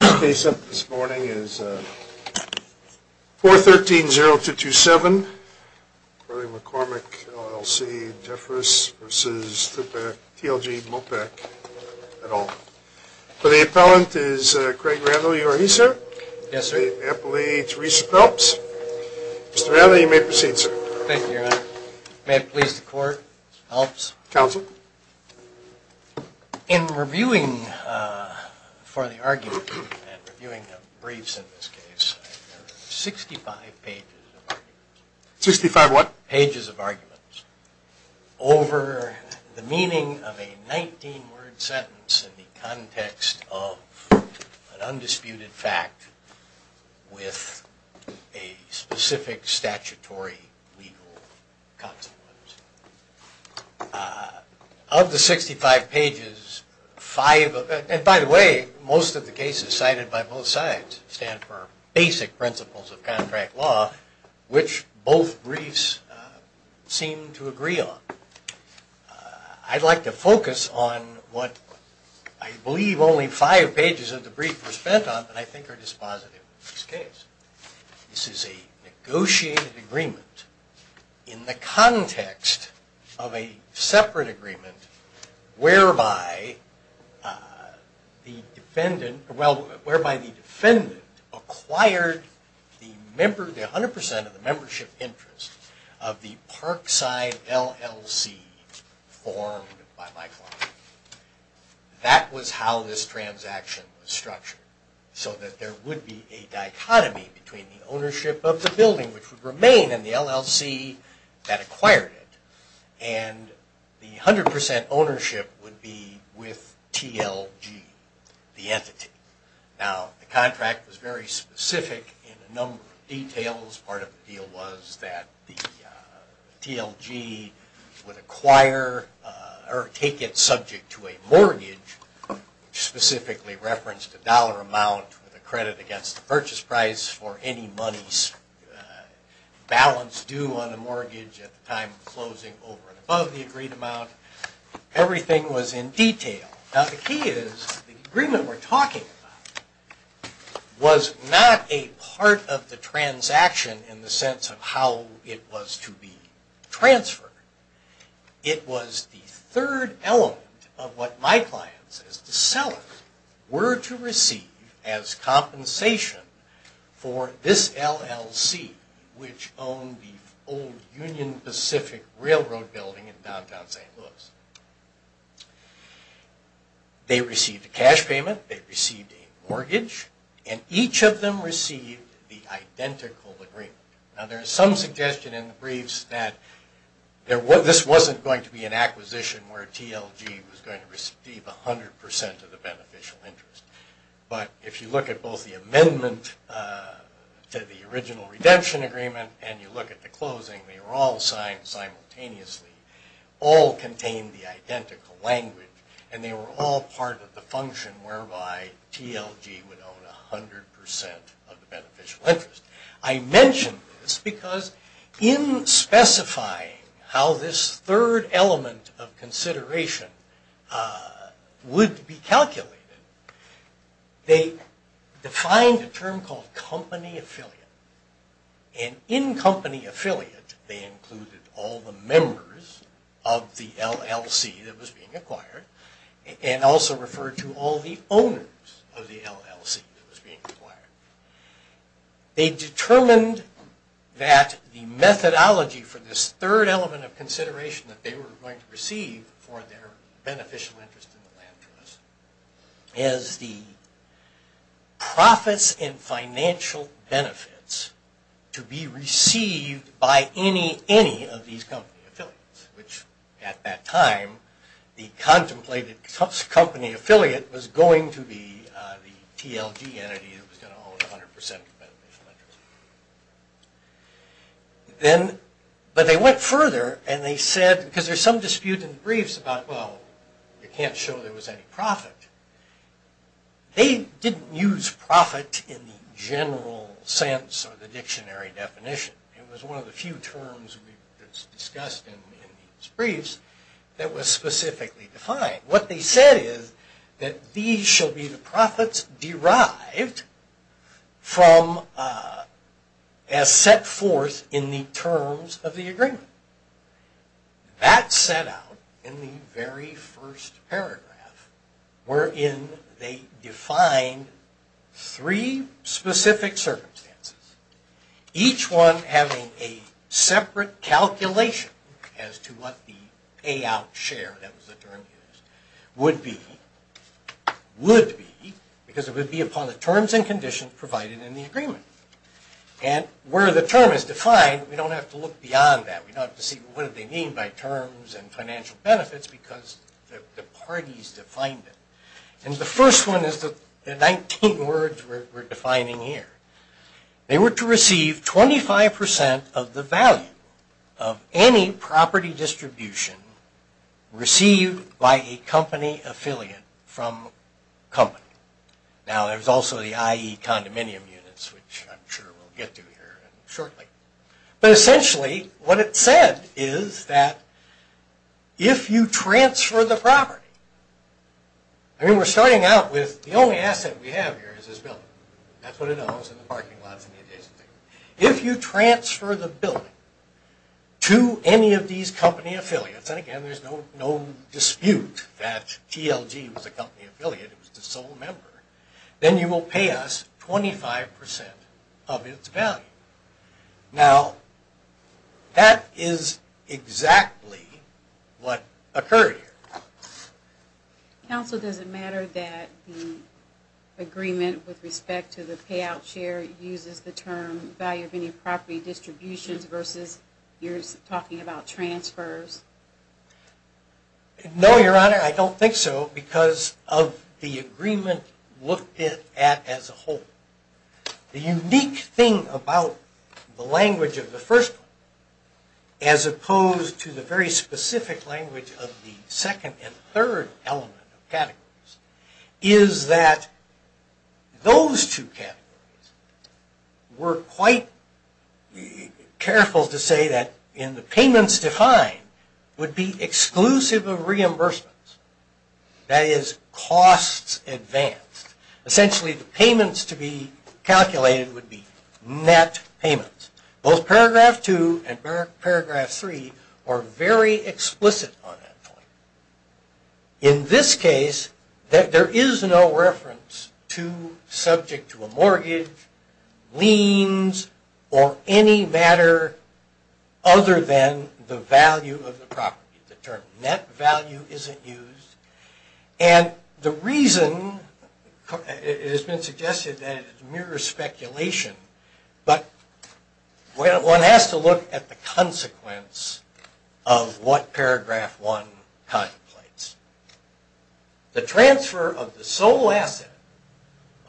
The case up this morning is 413-0227, Quarling-McCormick, LLC, Jeffress v. TLG Mopac, et al. For the appellant is Craig Randall, you are he, sir? Yes, sir. The appellee, Teresa Phelps. Mr. Randall, you may proceed, sir. Thank you, Your Honor. May it please the Court, Phelps. Counsel. In reviewing for the argument, and reviewing the briefs in this case, there are 65 pages of arguments. 65 what? Of the 65 pages, five of them, and by the way, most of the cases cited by both sides stand for basic principles of contract law, which both briefs seem to agree on. I'd like to focus on what I believe only five pages of the brief were spent on, but I think are dispositive in this case. This is a negotiated agreement in the context of a separate agreement whereby the defendant acquired 100% of the membership interest of the Parkside LLC formed by my client. That was how this transaction was structured, so that there would be a dichotomy between the ownership of the building, which would remain in the LLC that acquired it, and the 100% ownership would be with TLG, the entity. Now, the contract was very specific in a number of details. Part of the deal was that the TLG would acquire or take it subject to a mortgage, specifically referenced a dollar amount with a credit against the purchase price for any money balance due on a mortgage at the time of closing over and above the agreed amount. Everything was in detail. Now, the key is the agreement we're talking about was not a part of the transaction in the sense of how it was to be transferred. It was the third element of what my client says the sellers were to receive as compensation for this LLC, which owned the old Union Pacific Railroad building in downtown St. Louis. They received a cash payment, they received a mortgage, and each of them received the identical agreement. Now, there is some suggestion in the briefs that this wasn't going to be an acquisition where TLG was going to receive 100% of the beneficial interest. But if you look at both the amendment to the original redemption agreement and you look at the closing, they were all signed simultaneously, all contained the identical language, and they were all part of the function whereby TLG would own 100% of the beneficial interest. I mention this because in specifying how this third element of consideration would be calculated, they defined a term called company affiliate, and in company affiliate they included all the members of the LLC that was being acquired and also referred to all the owners of the LLC that was being acquired. They determined that the methodology for this third element of consideration that they were going to receive for their beneficial interest in the land trust is the profits and financial benefits to be received by any of these company affiliates, which at that time, the contemplated company affiliate was going to be the TLG entity that was going to own 100% of the beneficial interest. But they went further and they said, because there's some dispute in the briefs about, well, you can't show there was any profit. They didn't use profit in the general sense of the dictionary definition. It was one of the few terms we discussed in these briefs that was specifically defined. What they said is that these shall be the profits derived from, as set forth in the terms of the agreement. That set out in the very first paragraph, wherein they defined three specific circumstances, each one having a separate calculation as to what the payout share, that was the term used, would be, because it would be upon the terms and conditions provided in the agreement. And where the term is defined, we don't have to look beyond that. We don't have to see what they mean by terms and financial benefits because the parties defined it. And the first one is the 19 words we're defining here. They were to receive 25% of the value of any property distribution received by a company affiliate from company. Now there's also the I.E. condominium units, which I'm sure we'll get to here shortly. But essentially what it said is that if you transfer the property, I mean we're starting out with the only asset we have here is this building. That's what it knows in the parking lot. If you transfer the building to any of these company affiliates, and again there's no dispute that TLG was a company affiliate, it was the sole member, then you will pay us 25% of its value. Now that is exactly what occurred here. Counsel, does it matter that the agreement with respect to the payout share uses the term value of any property distributions versus you're talking about transfers? No, Your Honor, I don't think so because of the agreement looked at as a whole. The unique thing about the language of the first one as opposed to the very specific language of the second and third element of categories is that those two categories were quite careful to say that in the payments defined would be exclusive of reimbursements. That is costs advanced. Essentially the payments to be calculated would be net payments. Both paragraph two and paragraph three are very explicit on that point. In this case there is no reference to subject to a mortgage, liens, or any matter other than the value of the property. The term net value isn't used and the reason, it has been suggested that it mirrors speculation, but one has to look at the consequence of what paragraph one contemplates. The transfer of the sole asset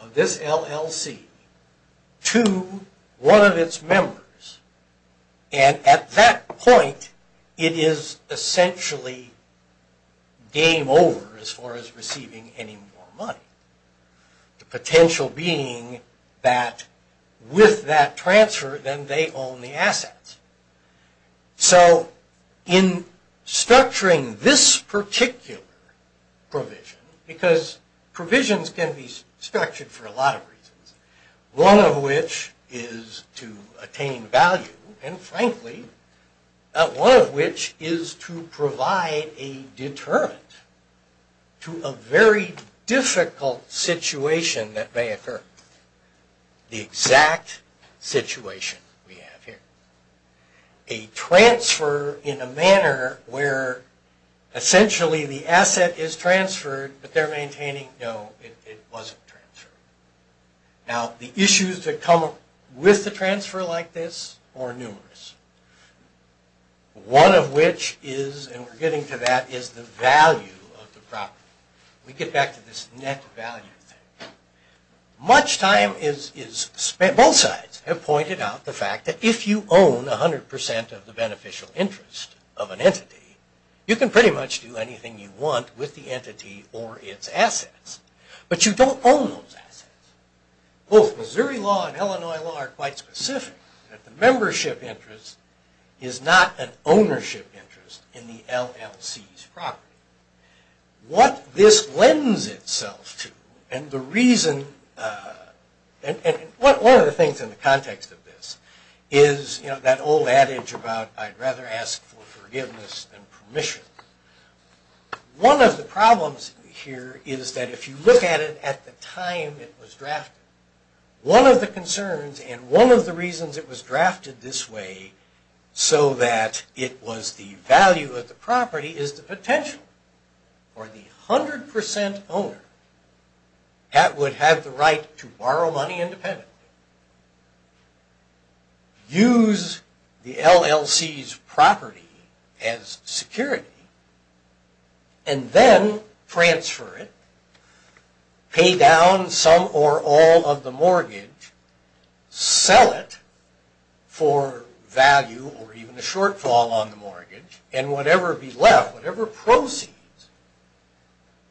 of this LLC to one of its members and at that point it is essentially game over as far as receiving any more money. The potential being that with that transfer then they own the assets. In structuring this particular provision, because provisions can be structured for a lot of reasons, one of which is to attain value and frankly one of which is to provide a deterrent to a very difficult situation that may occur. The exact situation we have here. A transfer in a manner where essentially the asset is transferred, but they are maintaining that it wasn't transferred. Now the issues that come up with the transfer like this are numerous. One of which is, and we are getting to that, is the value of the property. We get back to this net value thing. Both sides have pointed out the fact that if you own 100% of the beneficial interest of an entity, you can pretty much do anything you want with the entity or its assets. But you don't own those assets. Both Missouri law and Illinois law are quite specific that the membership interest is not an ownership interest in the LLC's property. What this lends itself to and the reason, and one of the things in the context of this is that old adage about I'd rather ask for forgiveness than permission. One of the problems here is that if you look at it at the time it was drafted, one of the concerns and one of the reasons it was drafted this way so that it was the value of the property is the potential. For the 100% owner that would have the right to borrow money independently, use the LLC's property as security, and then transfer it, pay down some or all of the mortgage, sell it for value or even a shortfall on the mortgage, and whatever be left, whatever proceeds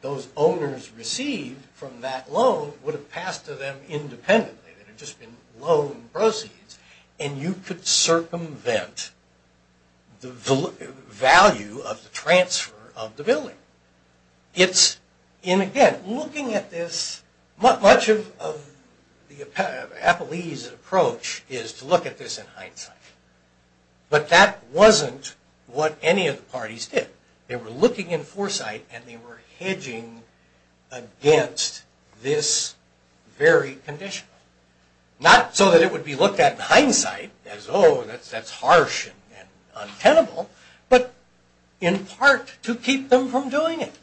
those owners received from that loan would have passed to them independently. It would have just been loan proceeds. And you could circumvent the value of the transfer of the billing. Again, looking at this, much of the Appellee's approach is to look at this in hindsight. But that wasn't what any of the parties did. They were looking in foresight and they were hedging against this very condition. Not so that it would be looked at in hindsight as, oh, that's harsh and untenable, but in part to keep them from doing it.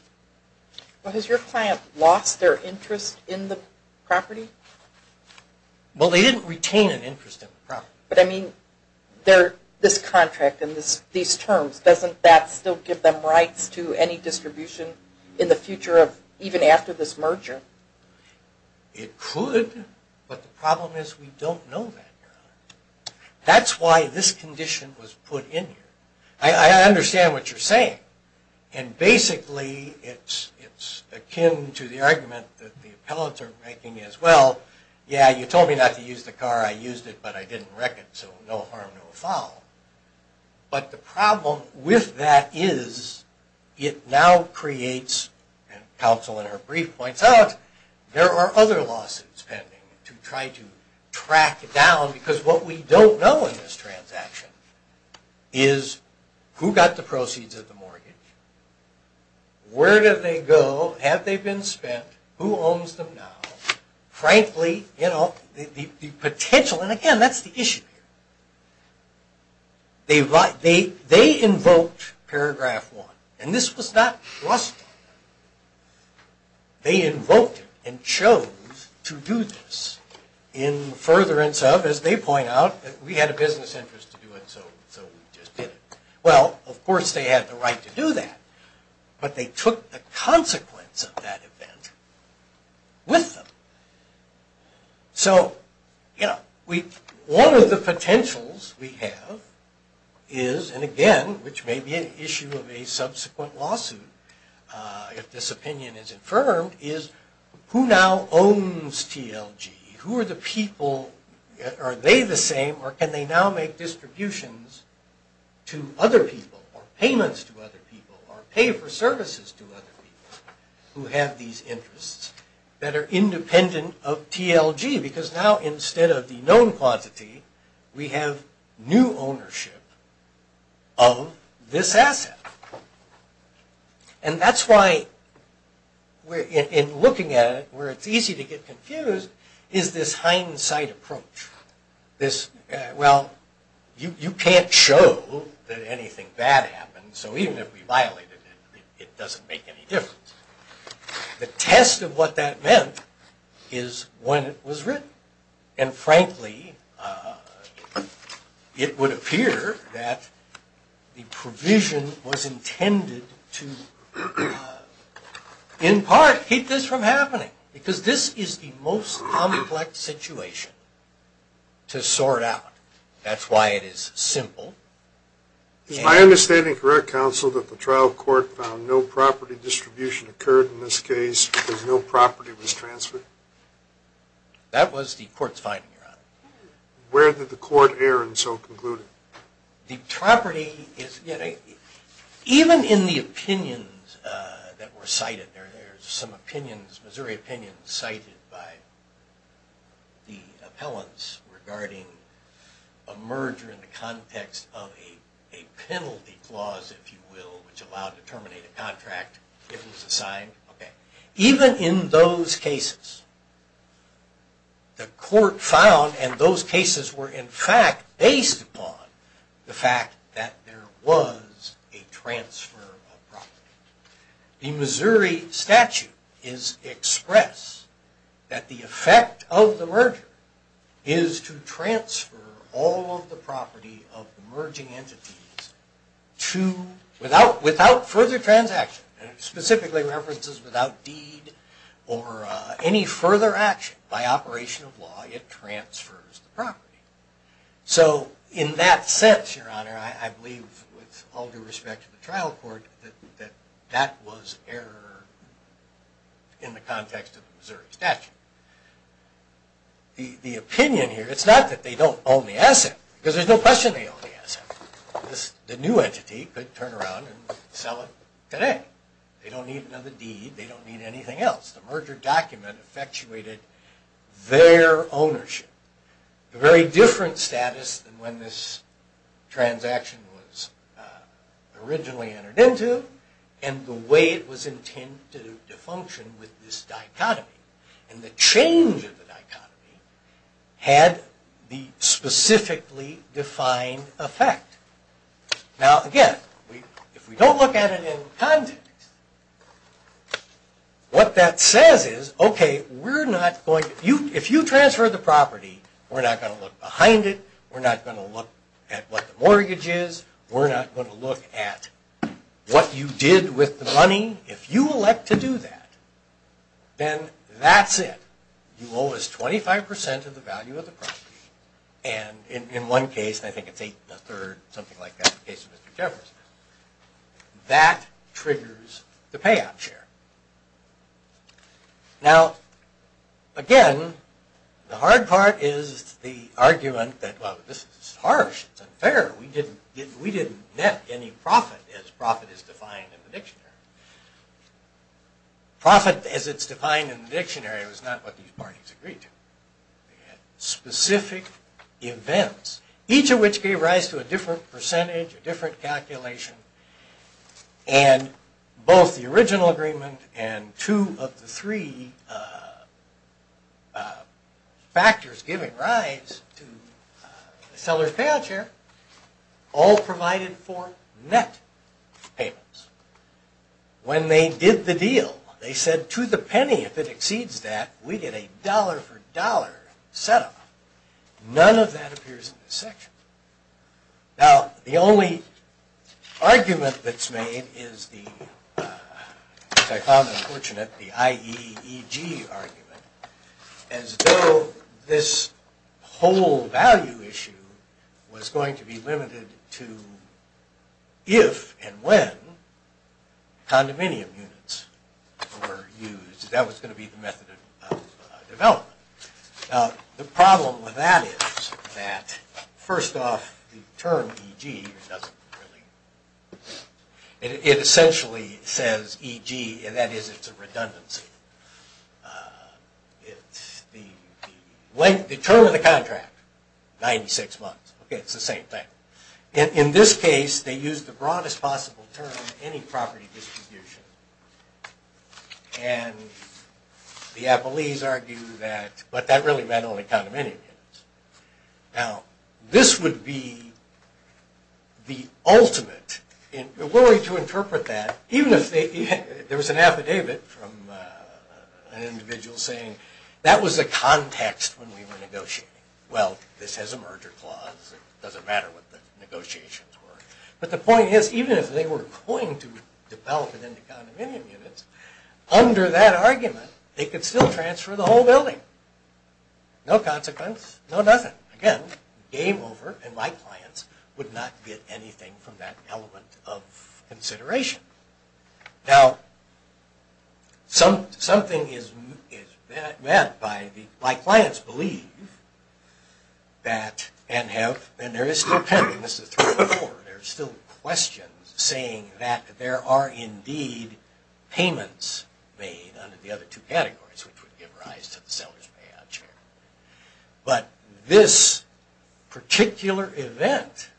Well, has your client lost their interest in the property? Well, they didn't retain an interest in the property. But I mean, this contract and these terms, doesn't that still give them rights to any distribution in the future of even after this merger? It could, but the problem is we don't know that now. That's why this condition was put in here. I understand what you're saying. And basically, it's akin to the argument that the Appellates are making as well. Yeah, you told me not to use the car, I used it, but I didn't wreck it, so no harm, no foul. But the problem with that is it now creates, and counsel in her brief points out, there are other lawsuits pending to try to track down. Because what we don't know in this transaction is who got the proceeds of the mortgage? Where did they go? Have they been spent? Who owns them now? Frankly, the potential, and again, that's the issue. They invoked Paragraph 1, and this was not trusted. They invoked it and chose to do this in furtherance of, as they point out, we had a business interest to do it, so we just did it. Well, of course they had the right to do that, but they took the consequence of that event with them. So, one of the potentials we have is, and again, which may be an issue of a subsequent lawsuit if this opinion is affirmed, is who now owns TLG? Who are the people, are they the same, or can they now make distributions to other people, or payments to other people, or pay for services to other people, who have these interests, that are independent of TLG? Because now, instead of the known quantity, we have new ownership of this asset. And that's why, in looking at it, where it's easy to get confused, is this hindsight approach. Well, you can't show that anything bad happened, so even if we violated it, it doesn't make any difference. The test of what that meant is when it was written. And frankly, it would appear that the provision was intended to, in part, keep this from happening. Because this is the most complex situation to sort out. That's why it is simple. Is my understanding correct, counsel, that the trial court found no property distribution occurred in this case, because no property was transferred? That was the court's finding, Your Honor. Where did the court err, and so conclude? The property is, you know, even in the opinions that were cited, there's some opinions, Missouri opinions, cited by the appellants regarding a merger in the context of a penalty clause, if you will, which allowed to terminate a contract if it was assigned. Even in those cases, the court found, and those cases were, in fact, based upon the fact that there was a transfer of property. The Missouri statute is expressed that the effect of the merger is to transfer all of the property of the merging entities to, without further transaction, and it specifically references without deed or any further action by operation of law, it transfers the property. So, in that sense, Your Honor, I believe, with all due respect to the trial court, that that was error in the context of the Missouri statute. The opinion here, it's not that they don't own the asset, because there's no question they own the asset. The new entity could turn around and sell it today. They don't need another deed, they don't need anything else. The merger document effectuated their ownership. A very different status than when this transaction was originally entered into, and the way it was intended to function with this dichotomy. And the change of the dichotomy had the specifically defined effect. Now, again, if we don't look at it in context, what that says is, okay, if you transfer the property, we're not going to look behind it, we're not going to look at what the mortgage is, we're not going to look at what you did with the money. If you elect to do that, then that's it. You owe us 25% of the value of the property, and in one case, I think it's eight and a third, something like that, in the case of Mr. Jefferson, that triggers the payout share. Now, again, the hard part is the argument that, well, this is harsh, it's unfair, we didn't net any profit as profit is defined in the dictionary. Profit as it's defined in the dictionary was not what these parties agreed to. They had specific events, each of which gave rise to a different percentage, a different calculation, and both the original agreement and two of the three factors giving rise to the seller's payout share all provided for net payments. When they did the deal, they said, to the penny, if it exceeds that, we get a dollar for dollar setup. None of that appears in this section. Now, the only argument that's made is the, which I found unfortunate, the IEEG argument, as though this whole value issue was going to be limited to if and when condominium units were used. That was going to be the method of development. Now, the problem with that is that, first off, the term EG doesn't really, it essentially says EG, and that is it's a redundancy. It's the length, the term of the contract, 96 months. Okay, it's the same thing. In this case, they used the broadest possible term, any property distribution, and the Applees argue that, but that really meant only condominium units. Now, this would be the ultimate, and we're willing to interpret that, even if there was an affidavit from an individual saying that was the context when we were negotiating. Well, this has a merger clause. It doesn't matter what the negotiations were, but the point is, even if they were going to develop it into condominium units, under that argument, they could still transfer the whole building. No consequence, no nothing. Again, game over, and my clients would not get anything from that element of consideration. Now, something is meant by the, my clients believe that, and have, and there is still, and this is 3.4, there are still questions saying that there are indeed payments made under the other two categories, which would give rise to the seller's payout share. But this particular event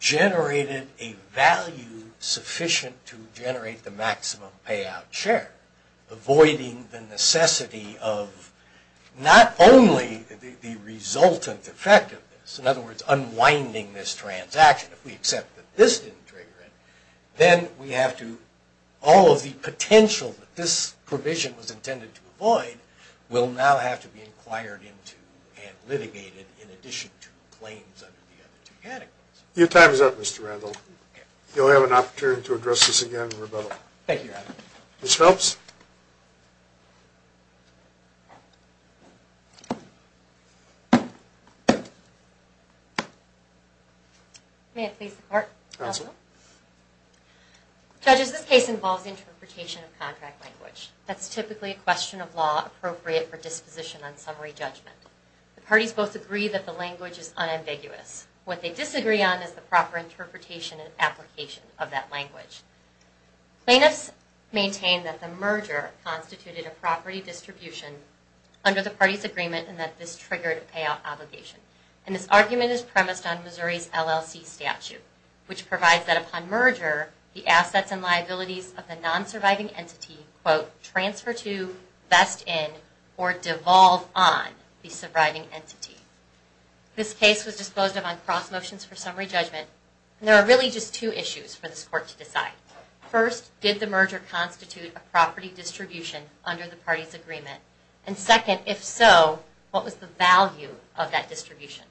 generated a value sufficient to generate the maximum payout share, avoiding the necessity of not only the resultant effect of this, in other words, unwinding this transaction if we accept that this didn't trigger it, then we have to, all of the potential that this provision was intended to avoid, will now have to be inquired into and litigated in addition to claims under the other two categories. Your time is up, Mr. Randall. Thank you, Your Honor. Ms. Phelps. May it please the Court. Counsel. Judges, this case involves interpretation of contract language. That's typically a question of law appropriate for disposition on summary judgment. The parties both agree that the language is unambiguous. What they disagree on is the proper interpretation and application of that language. The plaintiffs maintain that the merger constituted a property distribution under the parties' agreement and that this triggered a payout obligation. And this argument is premised on Missouri's LLC statute, which provides that upon merger, the assets and liabilities of the non-surviving entity quote, transfer to, vest in, or devolve on the surviving entity. This case was disposed of on cross motions for summary judgment, and there are really just two issues for this Court to decide. First, did the merger constitute a property distribution under the parties' agreement? And second, if so, what was the value of that distribution?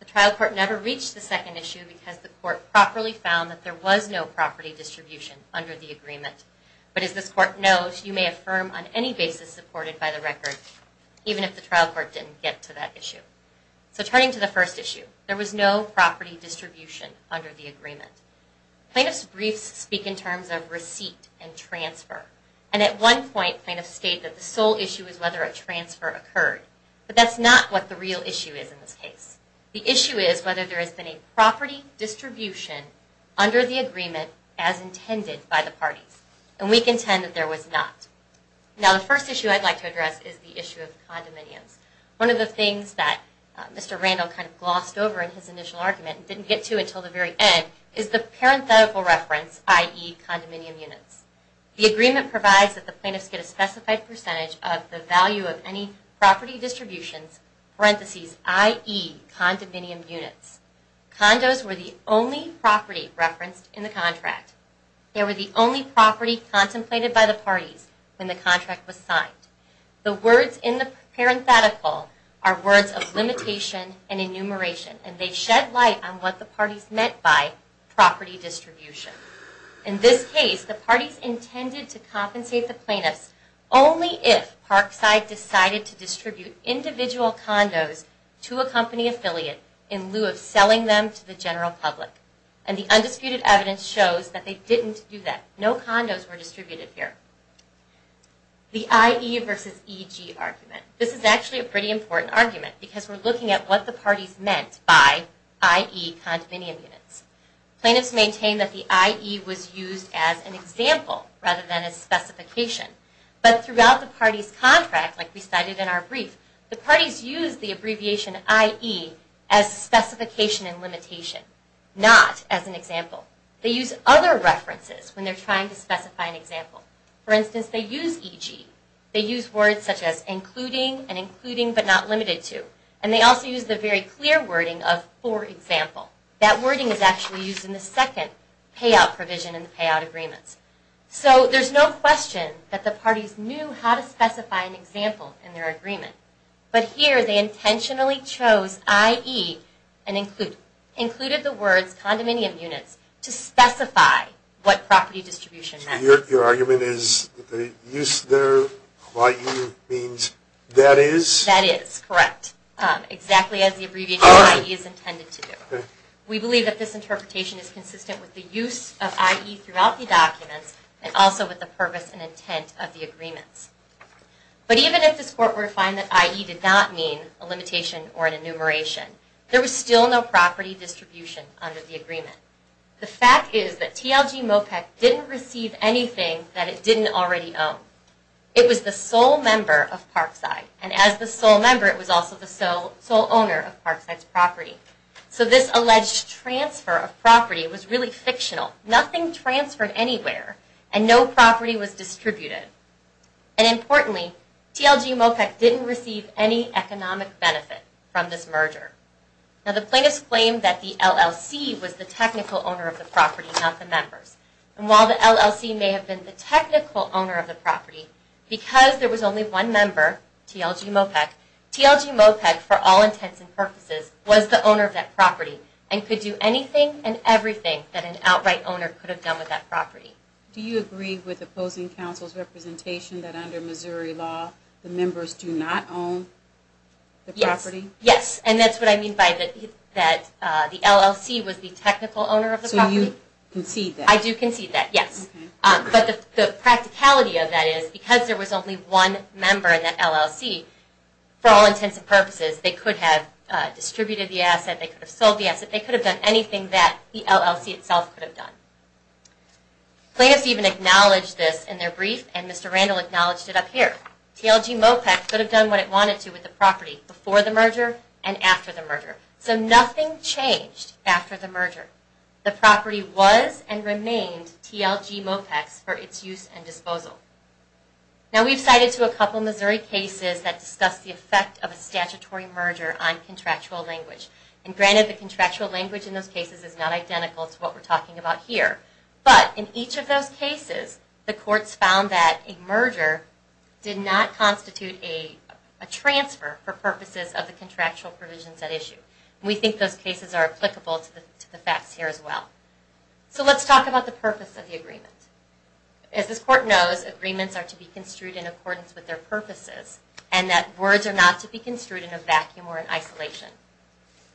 The trial court never reached the second issue because the court properly found that there was no property distribution under the agreement. But as this Court knows, you may affirm on any basis supported by the record, even if the trial court didn't get to that issue. So turning to the first issue, there was no property distribution under the agreement. Plaintiffs' briefs speak in terms of receipt and transfer. And at one point plaintiffs state that the sole issue is whether a transfer occurred. But that's not what the real issue is in this case. The issue is whether there has been a property distribution under the agreement as intended by the parties. And we contend that there was not. Now the first issue I'd like to address is the issue of condominiums. One of the things that Mr. Randall kind of glossed over in his initial argument and didn't get to until the very end is the parenthetical reference, i.e., condominium units. The agreement provides that the plaintiffs get a specified percentage of the value of any property distributions, parentheses, i.e., condominium units. Condos were the only property referenced in the contract. They were the only property contemplated by the parties when the contract was signed. The words in the parenthetical are words of limitation and enumeration. And they shed light on what the parties meant by property distribution. In this case, the parties intended to compensate the plaintiffs only if Parkside decided to distribute individual condos to a company affiliate in lieu of selling them to the general public. And the undisputed evidence shows that they didn't do that. No condos were distributed here. The I.E. versus E.G. argument. This is actually a pretty important argument because we're looking at what the parties meant by, i.e., condominium units. Plaintiffs maintain that the I.E. was used as an example rather than a specification. But throughout the parties' contract, like we cited in our brief, the parties used the abbreviation I.E. as a specification and limitation, not as an example. They use other references when they're trying to specify an example. For instance, they use E.G. They use words such as including and including but not limited to. And they also use the very clear wording of for example. That wording is actually used in the second payout provision in the payout agreements. So there's no question that the parties knew how to specify an example in their agreement. But here they intentionally chose I.E. and included the words condominium units to specify what property distribution meant. Your argument is that the use there of I.E. means that is? That is, correct. Exactly as the abbreviation I.E. is intended to do. We believe that this interpretation is consistent with the use of I.E. throughout the documents and also with the purpose and intent of the agreements. But even if this court were to find that I.E. did not mean a limitation or an enumeration, there was still no property distribution under the agreement. The fact is that TLG MOPEC didn't receive anything that it didn't already own. It was the sole member of Parkside. And as the sole member, it was also the sole owner of Parkside's property. So this alleged transfer of property was really fictional. Nothing transferred anywhere and no property was distributed. And importantly, TLG MOPEC didn't receive any economic benefit from this merger. Now the plaintiffs claim that the LLC was the technical owner of the property, not the members. And while the LLC may have been the technical owner of the property, because there was only one member, TLG MOPEC, TLG MOPEC, for all intents and purposes, was the owner of that property and could do anything and everything that an outright owner could have done with that property. Do you agree with opposing counsel's representation that under Missouri law, the members do not own the property? Yes, and that's what I mean by that the LLC was the technical owner of the property. So you concede that? I do concede that, yes. But the practicality of that is because there was only one member in that LLC, for all intents and purposes, they could have distributed the asset, they could have sold the asset, they could have done anything that the LLC itself could have done. Plaintiffs even acknowledged this in their brief and Mr. Randall acknowledged it up here. TLG MOPEC could have done what it wanted to with the property before the merger and after the merger. So nothing changed after the merger. The property was and remained TLG MOPEC's for its use and disposal. Now we've cited to a couple of Missouri cases that discuss the effect of a statutory merger on contractual language. And granted the contractual language in those cases is not identical to what we're talking about here. But in each of those cases, the courts found that a merger did not constitute a transfer for purposes of the contractual provisions at issue. We think those cases are applicable to the facts here as well. So let's talk about the purpose of the agreement. As this court knows, agreements are to be construed in accordance with their purposes and that words are not to be construed in a vacuum or in isolation.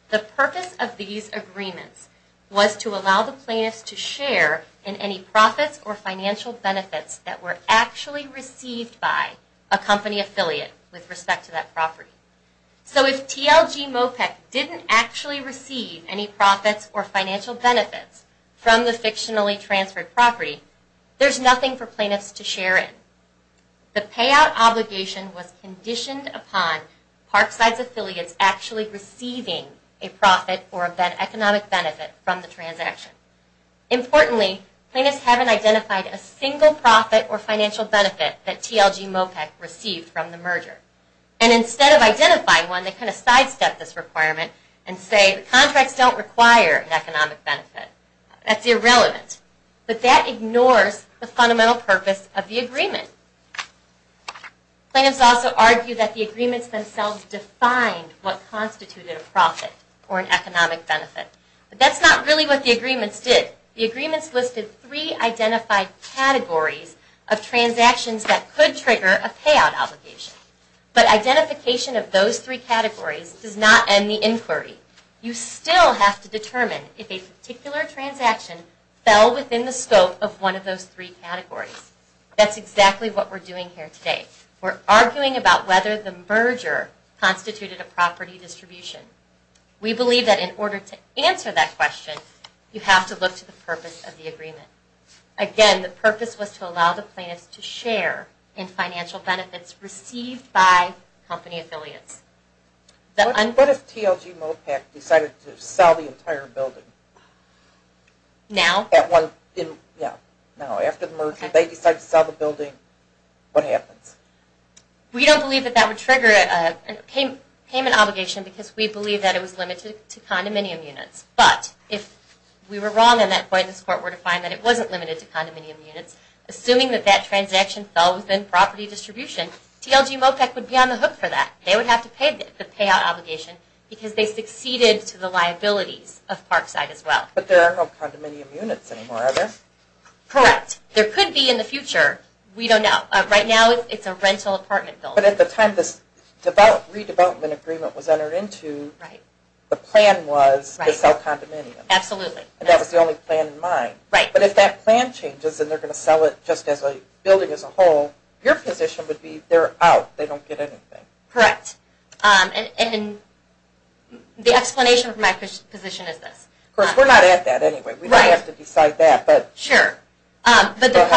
The purpose of these agreements was to allow the plaintiffs to share in any profits or financial benefits that were actually received by a company affiliate with respect to that property. So if TLG MOPEC didn't actually receive any profits or financial benefits from the fictionally transferred property, there's nothing for plaintiffs to share in. The payout obligation was conditioned upon Parkside's affiliates actually receiving a profit or an economic benefit from the transaction. Importantly, plaintiffs haven't identified a single profit or financial benefit that TLG MOPEC received from the merger. And instead of identifying one, they kind of sidestep this requirement and say the contracts don't require an economic benefit. That's irrelevant. But that ignores the fundamental purpose of the agreement. Plaintiffs also argue that the agreements themselves define what constituted a profit or an economic benefit. But that's not really what the agreements did. The agreements listed three identified categories of transactions that could trigger a payout obligation. But identification of those three categories does not end the inquiry. You still have to determine if a particular transaction fell within the scope of one of those three categories. That's exactly what we're doing here today. We're arguing about whether the merger constituted a property distribution. We believe that in order to answer that question, you have to look to the purpose of the agreement. Again, the purpose was to allow the plaintiffs to share in financial benefits received by company affiliates. What if TLG MOPEC decided to sell the entire building? Now? Now, after the merger, they decide to sell the building. What happens? We don't believe that that would trigger a payment obligation because we believe that it was limited to condominium units. But if we were wrong and that plaintiffs' court were to find that it wasn't limited to condominium units, assuming that that transaction fell within property distribution, TLG MOPEC would be on the hook for that. They would have to pay the payout obligation because they succeeded to the liabilities of Parkside as well. But there are no condominium units anymore, are there? Correct. There could be in the future. We don't know. Right now, it's a rental apartment building. But at the time this redevelopment agreement was entered into, the plan was to sell condominiums. Absolutely. And that was the only plan in mind. But if that plan changes and they're going to sell it just as a building as a whole, your position would be they're out. They don't get anything. Correct. And the explanation for my position is this. Of course, we're not at that anyway. We don't have to decide that. Sure. But the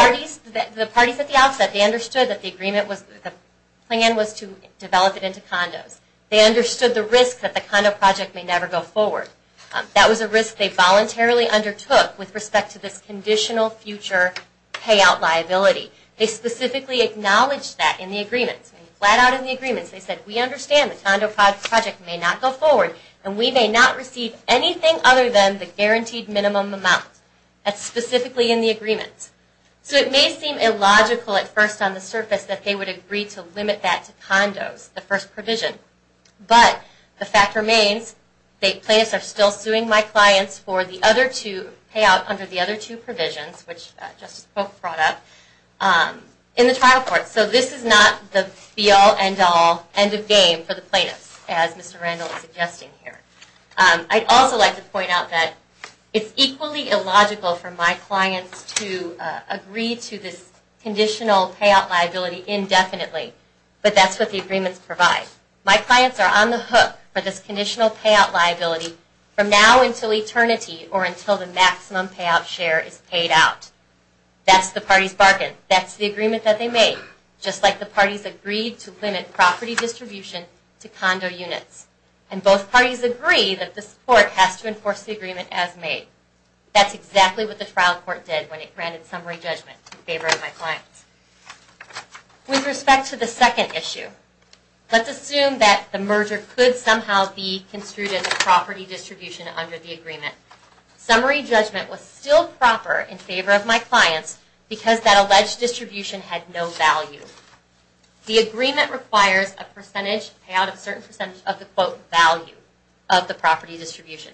parties at the outset, they understood that the plan was to develop it into condos. They understood the risk that the condo project may never go forward. That was a risk they voluntarily undertook with respect to this conditional future payout liability. They specifically acknowledged that in the agreement. Flat out in the agreement, they said, we understand the condo project may not go forward, and we may not receive anything other than the guaranteed minimum amount. That's specifically in the agreement. So it may seem illogical at first on the surface that they would agree to limit that to condos, the first provision. But the fact remains, the plans are still suing my clients for the other two payouts under the other two provisions, which Justice Polk brought up, in the trial court. So this is not the be-all, end-all, end-of-game for the plaintiffs, as Mr. Randall is suggesting here. I'd also like to point out that it's equally illogical for my clients to agree to this conditional payout liability indefinitely. But that's what the agreements provide. My clients are on the hook for this conditional payout liability from now until eternity, or until the maximum payout share is paid out. That's the party's bargain. That's the agreement that they made. Just like the parties agreed to limit property distribution to condo units. And both parties agree that this court has to enforce the agreement as made. That's exactly what the trial court did when it granted summary judgment in favor of my clients. With respect to the second issue, let's assume that the merger could somehow be construed as a property distribution under the agreement. Summary judgment was still proper in favor of my clients because that alleged distribution had no value. The agreement requires a percentage, payout of a certain percentage of the quote value of the property distribution.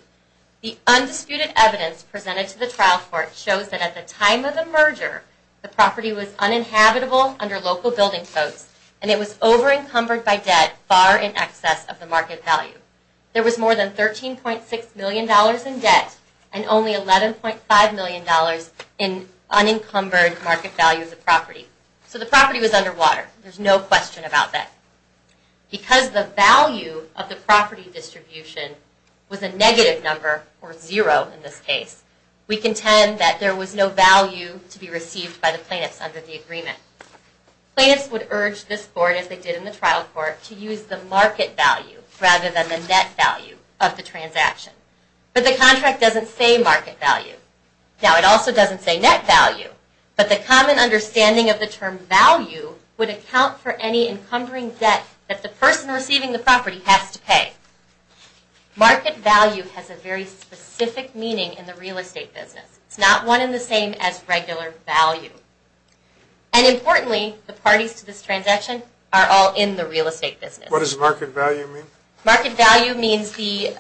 The undisputed evidence presented to the trial court shows that at the time of the merger, the property was uninhabitable under local building codes, and it was over-encumbered by debt far in excess of the market value. There was more than $13.6 million in debt, and only $11.5 million in unencumbered market value of the property. So the property was underwater. There's no question about that. Because the value of the property distribution was a negative number, or zero in this case, we contend that there was no value to be received by the plaintiffs under the agreement. Plaintiffs would urge this court, as they did in the trial court, to use the market value rather than the net value of the transaction. But the contract doesn't say market value. Now, it also doesn't say net value, but the common understanding of the term value would account for any encumbering debt that the person receiving the property has to pay. Market value has a very specific meaning in the real estate business. It's not one and the same as regular value. And importantly, the parties to this transaction are all in the real estate business. What does market value mean? Market value means the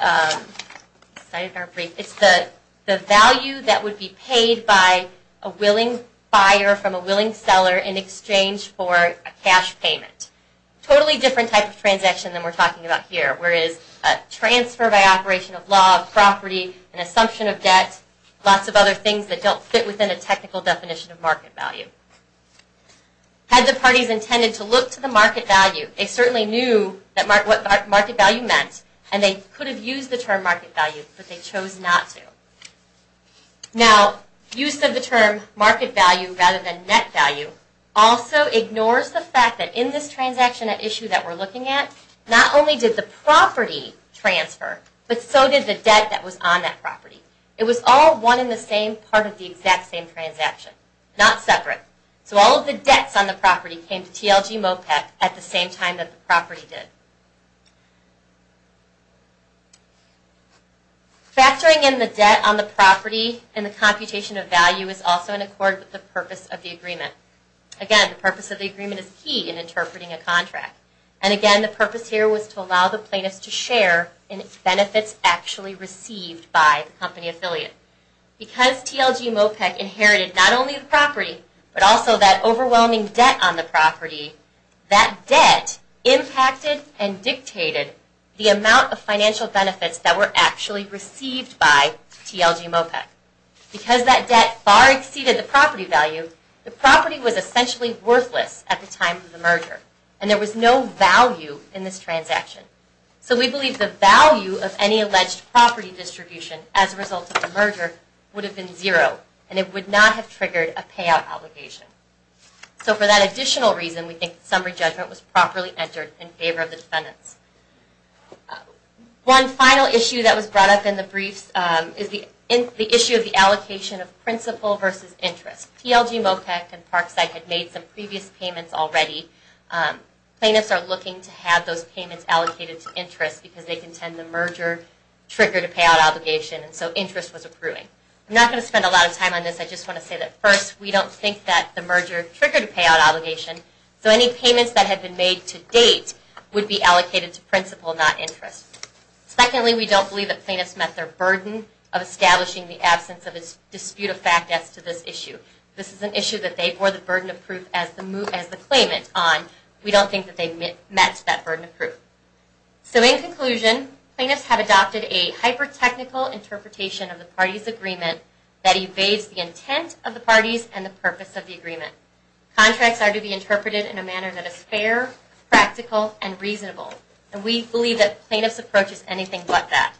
value that would be paid by a willing buyer from a willing seller in exchange for a cash payment. Totally different type of transaction than we're talking about here, whereas a transfer by operation of law, property, an assumption of debt, lots of other things that don't fit within a technical definition of market value. Had the parties intended to look to the market value, they certainly knew what market value meant, and they could have used the term market value, but they chose not to. Now, use of the term market value rather than net value also ignores the fact that in this transaction at issue that we're looking at, not only did the property transfer, but so did the debt that was on that property. It was all one and the same part of the exact same transaction. It was separate. So all of the debts on the property came to TLG MOPEC at the same time that the property did. Factoring in the debt on the property and the computation of value is also in accord with the purpose of the agreement. Again, the purpose of the agreement is key in interpreting a contract. And again, the purpose here was to allow the plaintiffs to share in benefits actually received by the company affiliate. Because TLG MOPEC inherited not only the property, but also that overwhelming debt on the property, that debt impacted and dictated the amount of financial benefits that were actually received by TLG MOPEC. Because that debt far exceeded the property value, the property was essentially worthless at the time of the merger, and there was no value in this transaction. So we believe the value of any alleged property distribution as a result of the merger would have been zero, and it would not have triggered a payout obligation. So for that additional reason, we think the summary judgment was properly entered in favor of the defendants. One final issue that was brought up in the briefs is the issue of the allocation of principal versus interest. TLG MOPEC and Parkside had made some previous payments already. Plaintiffs are looking to have those payments allocated to interest because they contend the merger triggered a payout obligation and so interest was accruing. I'm not going to spend a lot of time on this. I just want to say that first, we don't think that the merger triggered a payout obligation, so any payments that have been made to date would be allocated to principal, not interest. Secondly, we don't believe that plaintiffs met their burden of establishing the absence of a dispute of fact as to this issue. This is an issue that they bore the burden of proof as the claimant on. We don't think that they met that burden of proof. So in conclusion, plaintiffs have adopted a hyper-technical interpretation of the parties' agreement that evades the intent of the parties and the purpose of the agreement. Contracts are to be interpreted in a manner that is fair, practical, and reasonable. We believe that plaintiffs' approach is anything but that.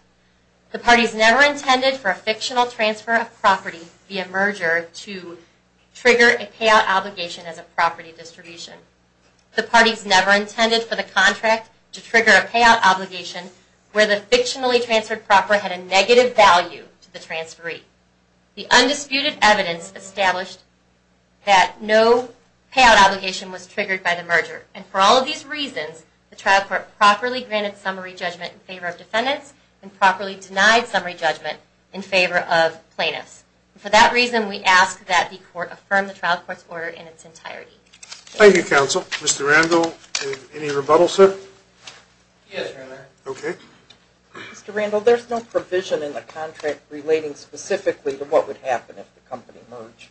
The parties never intended for a fictional transfer of property via merger to trigger a payout obligation as a property distribution. The parties never intended for the contract to trigger a payout obligation where the fictionally transferred property had a negative value to the transferee. The undisputed evidence established that no payout obligation was triggered by the merger. And for all of these reasons, the trial court properly granted summary judgment in favor of defendants and properly denied summary judgment in favor of plaintiffs. For that reason, we ask that the court affirm the trial court's order in its entirety. Thank you, counsel. Mr. Randall, any rebuttals, sir? Yes, Your Honor. Okay. Mr. Randall, there's no provision in the contract relating specifically to what would happen if the company merged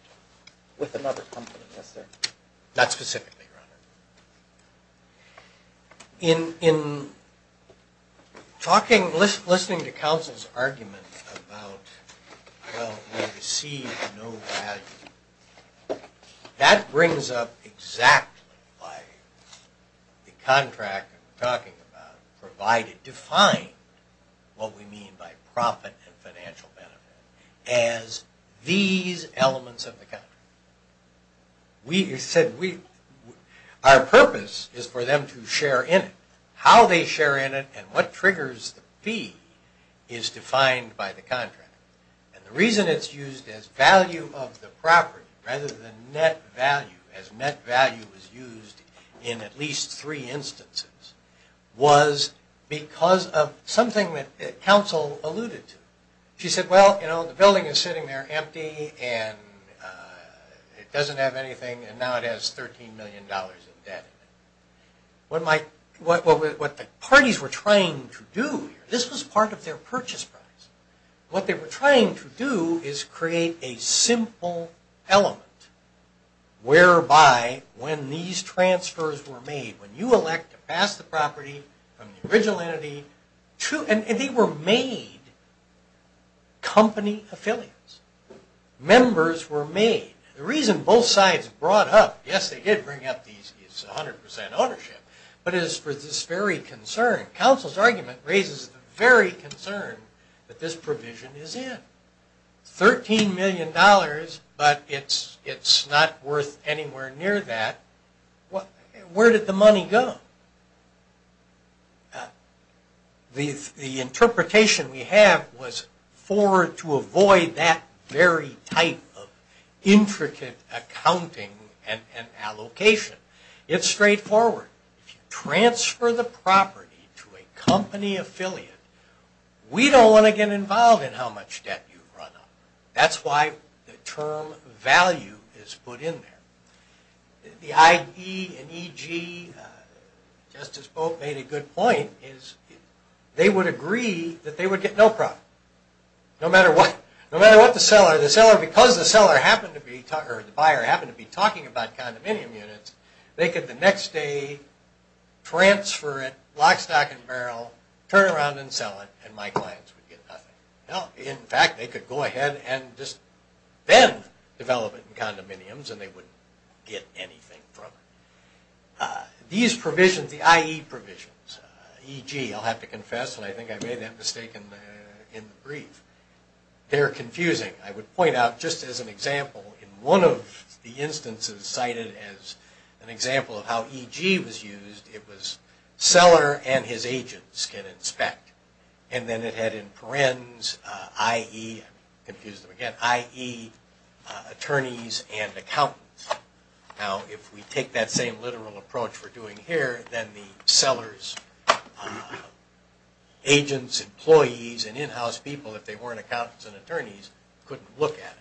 with another company, is there? Not specifically, Your Honor. In talking, listening to counsel's argument about, well, we receive no value, that brings up exactly why the contract that we're talking about provided, defined what we mean by profit and financial benefit as these elements of the contract. We said we, our purpose is for them to share in it. How they share in it and what triggers the fee is defined by the contract. And the reason it's used as value of the property rather than net value, as net value is used in at least three instances was because of something that counsel alluded to. She said, well, the building is sitting there empty and it doesn't have anything and now it has $13 million in debt. What the parties were trying to do, this was part of their purchase price. What they were trying to do is create a simple element whereby when these transfers were made, when you elect to pass the property from the original entity to, and they were made company affiliates. Members were made. The reason both sides brought up, yes, they did bring up these 100% ownership, but it is for this very concern. Counsel's argument raises the very concern that this provision is in. $13 million, but it's not worth anywhere near that. Where did the money go? The interpretation we have was forward to avoid that very type of intricate accounting and allocation. It's straightforward. If you transfer the property to a company affiliate, we don't want to get involved in how much debt you run up. That's why the term value is put in there. The IE and EG, just as both made a good point, they would agree that they would get no profit. No matter what the seller, because the buyer happened to be talking about condominium units, they could the next day transfer it, lock, stock, and barrel, turn around and sell it, and my clients would get nothing. In fact, they could go ahead and just then develop it in condominiums and not get anything from it. These provisions, the IE provisions, EG, I'll have to confess, and I think I made that mistake in the brief, they're confusing. I would point out, just as an example, in one of the instances cited as an example of how EG was used, it was seller and his agents can inspect, and then it had in parens, IE, attorneys and accountants, now if we take that same literal approach we're doing here, then the sellers, agents, employees, and in-house people, if they weren't accountants and attorneys, couldn't look at it.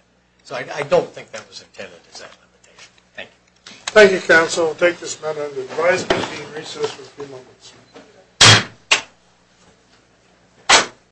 So I don't think that was intended as that limitation. Thank you. Thank you, counsel. We'll take this matter into the advisory meeting and recess for a few moments.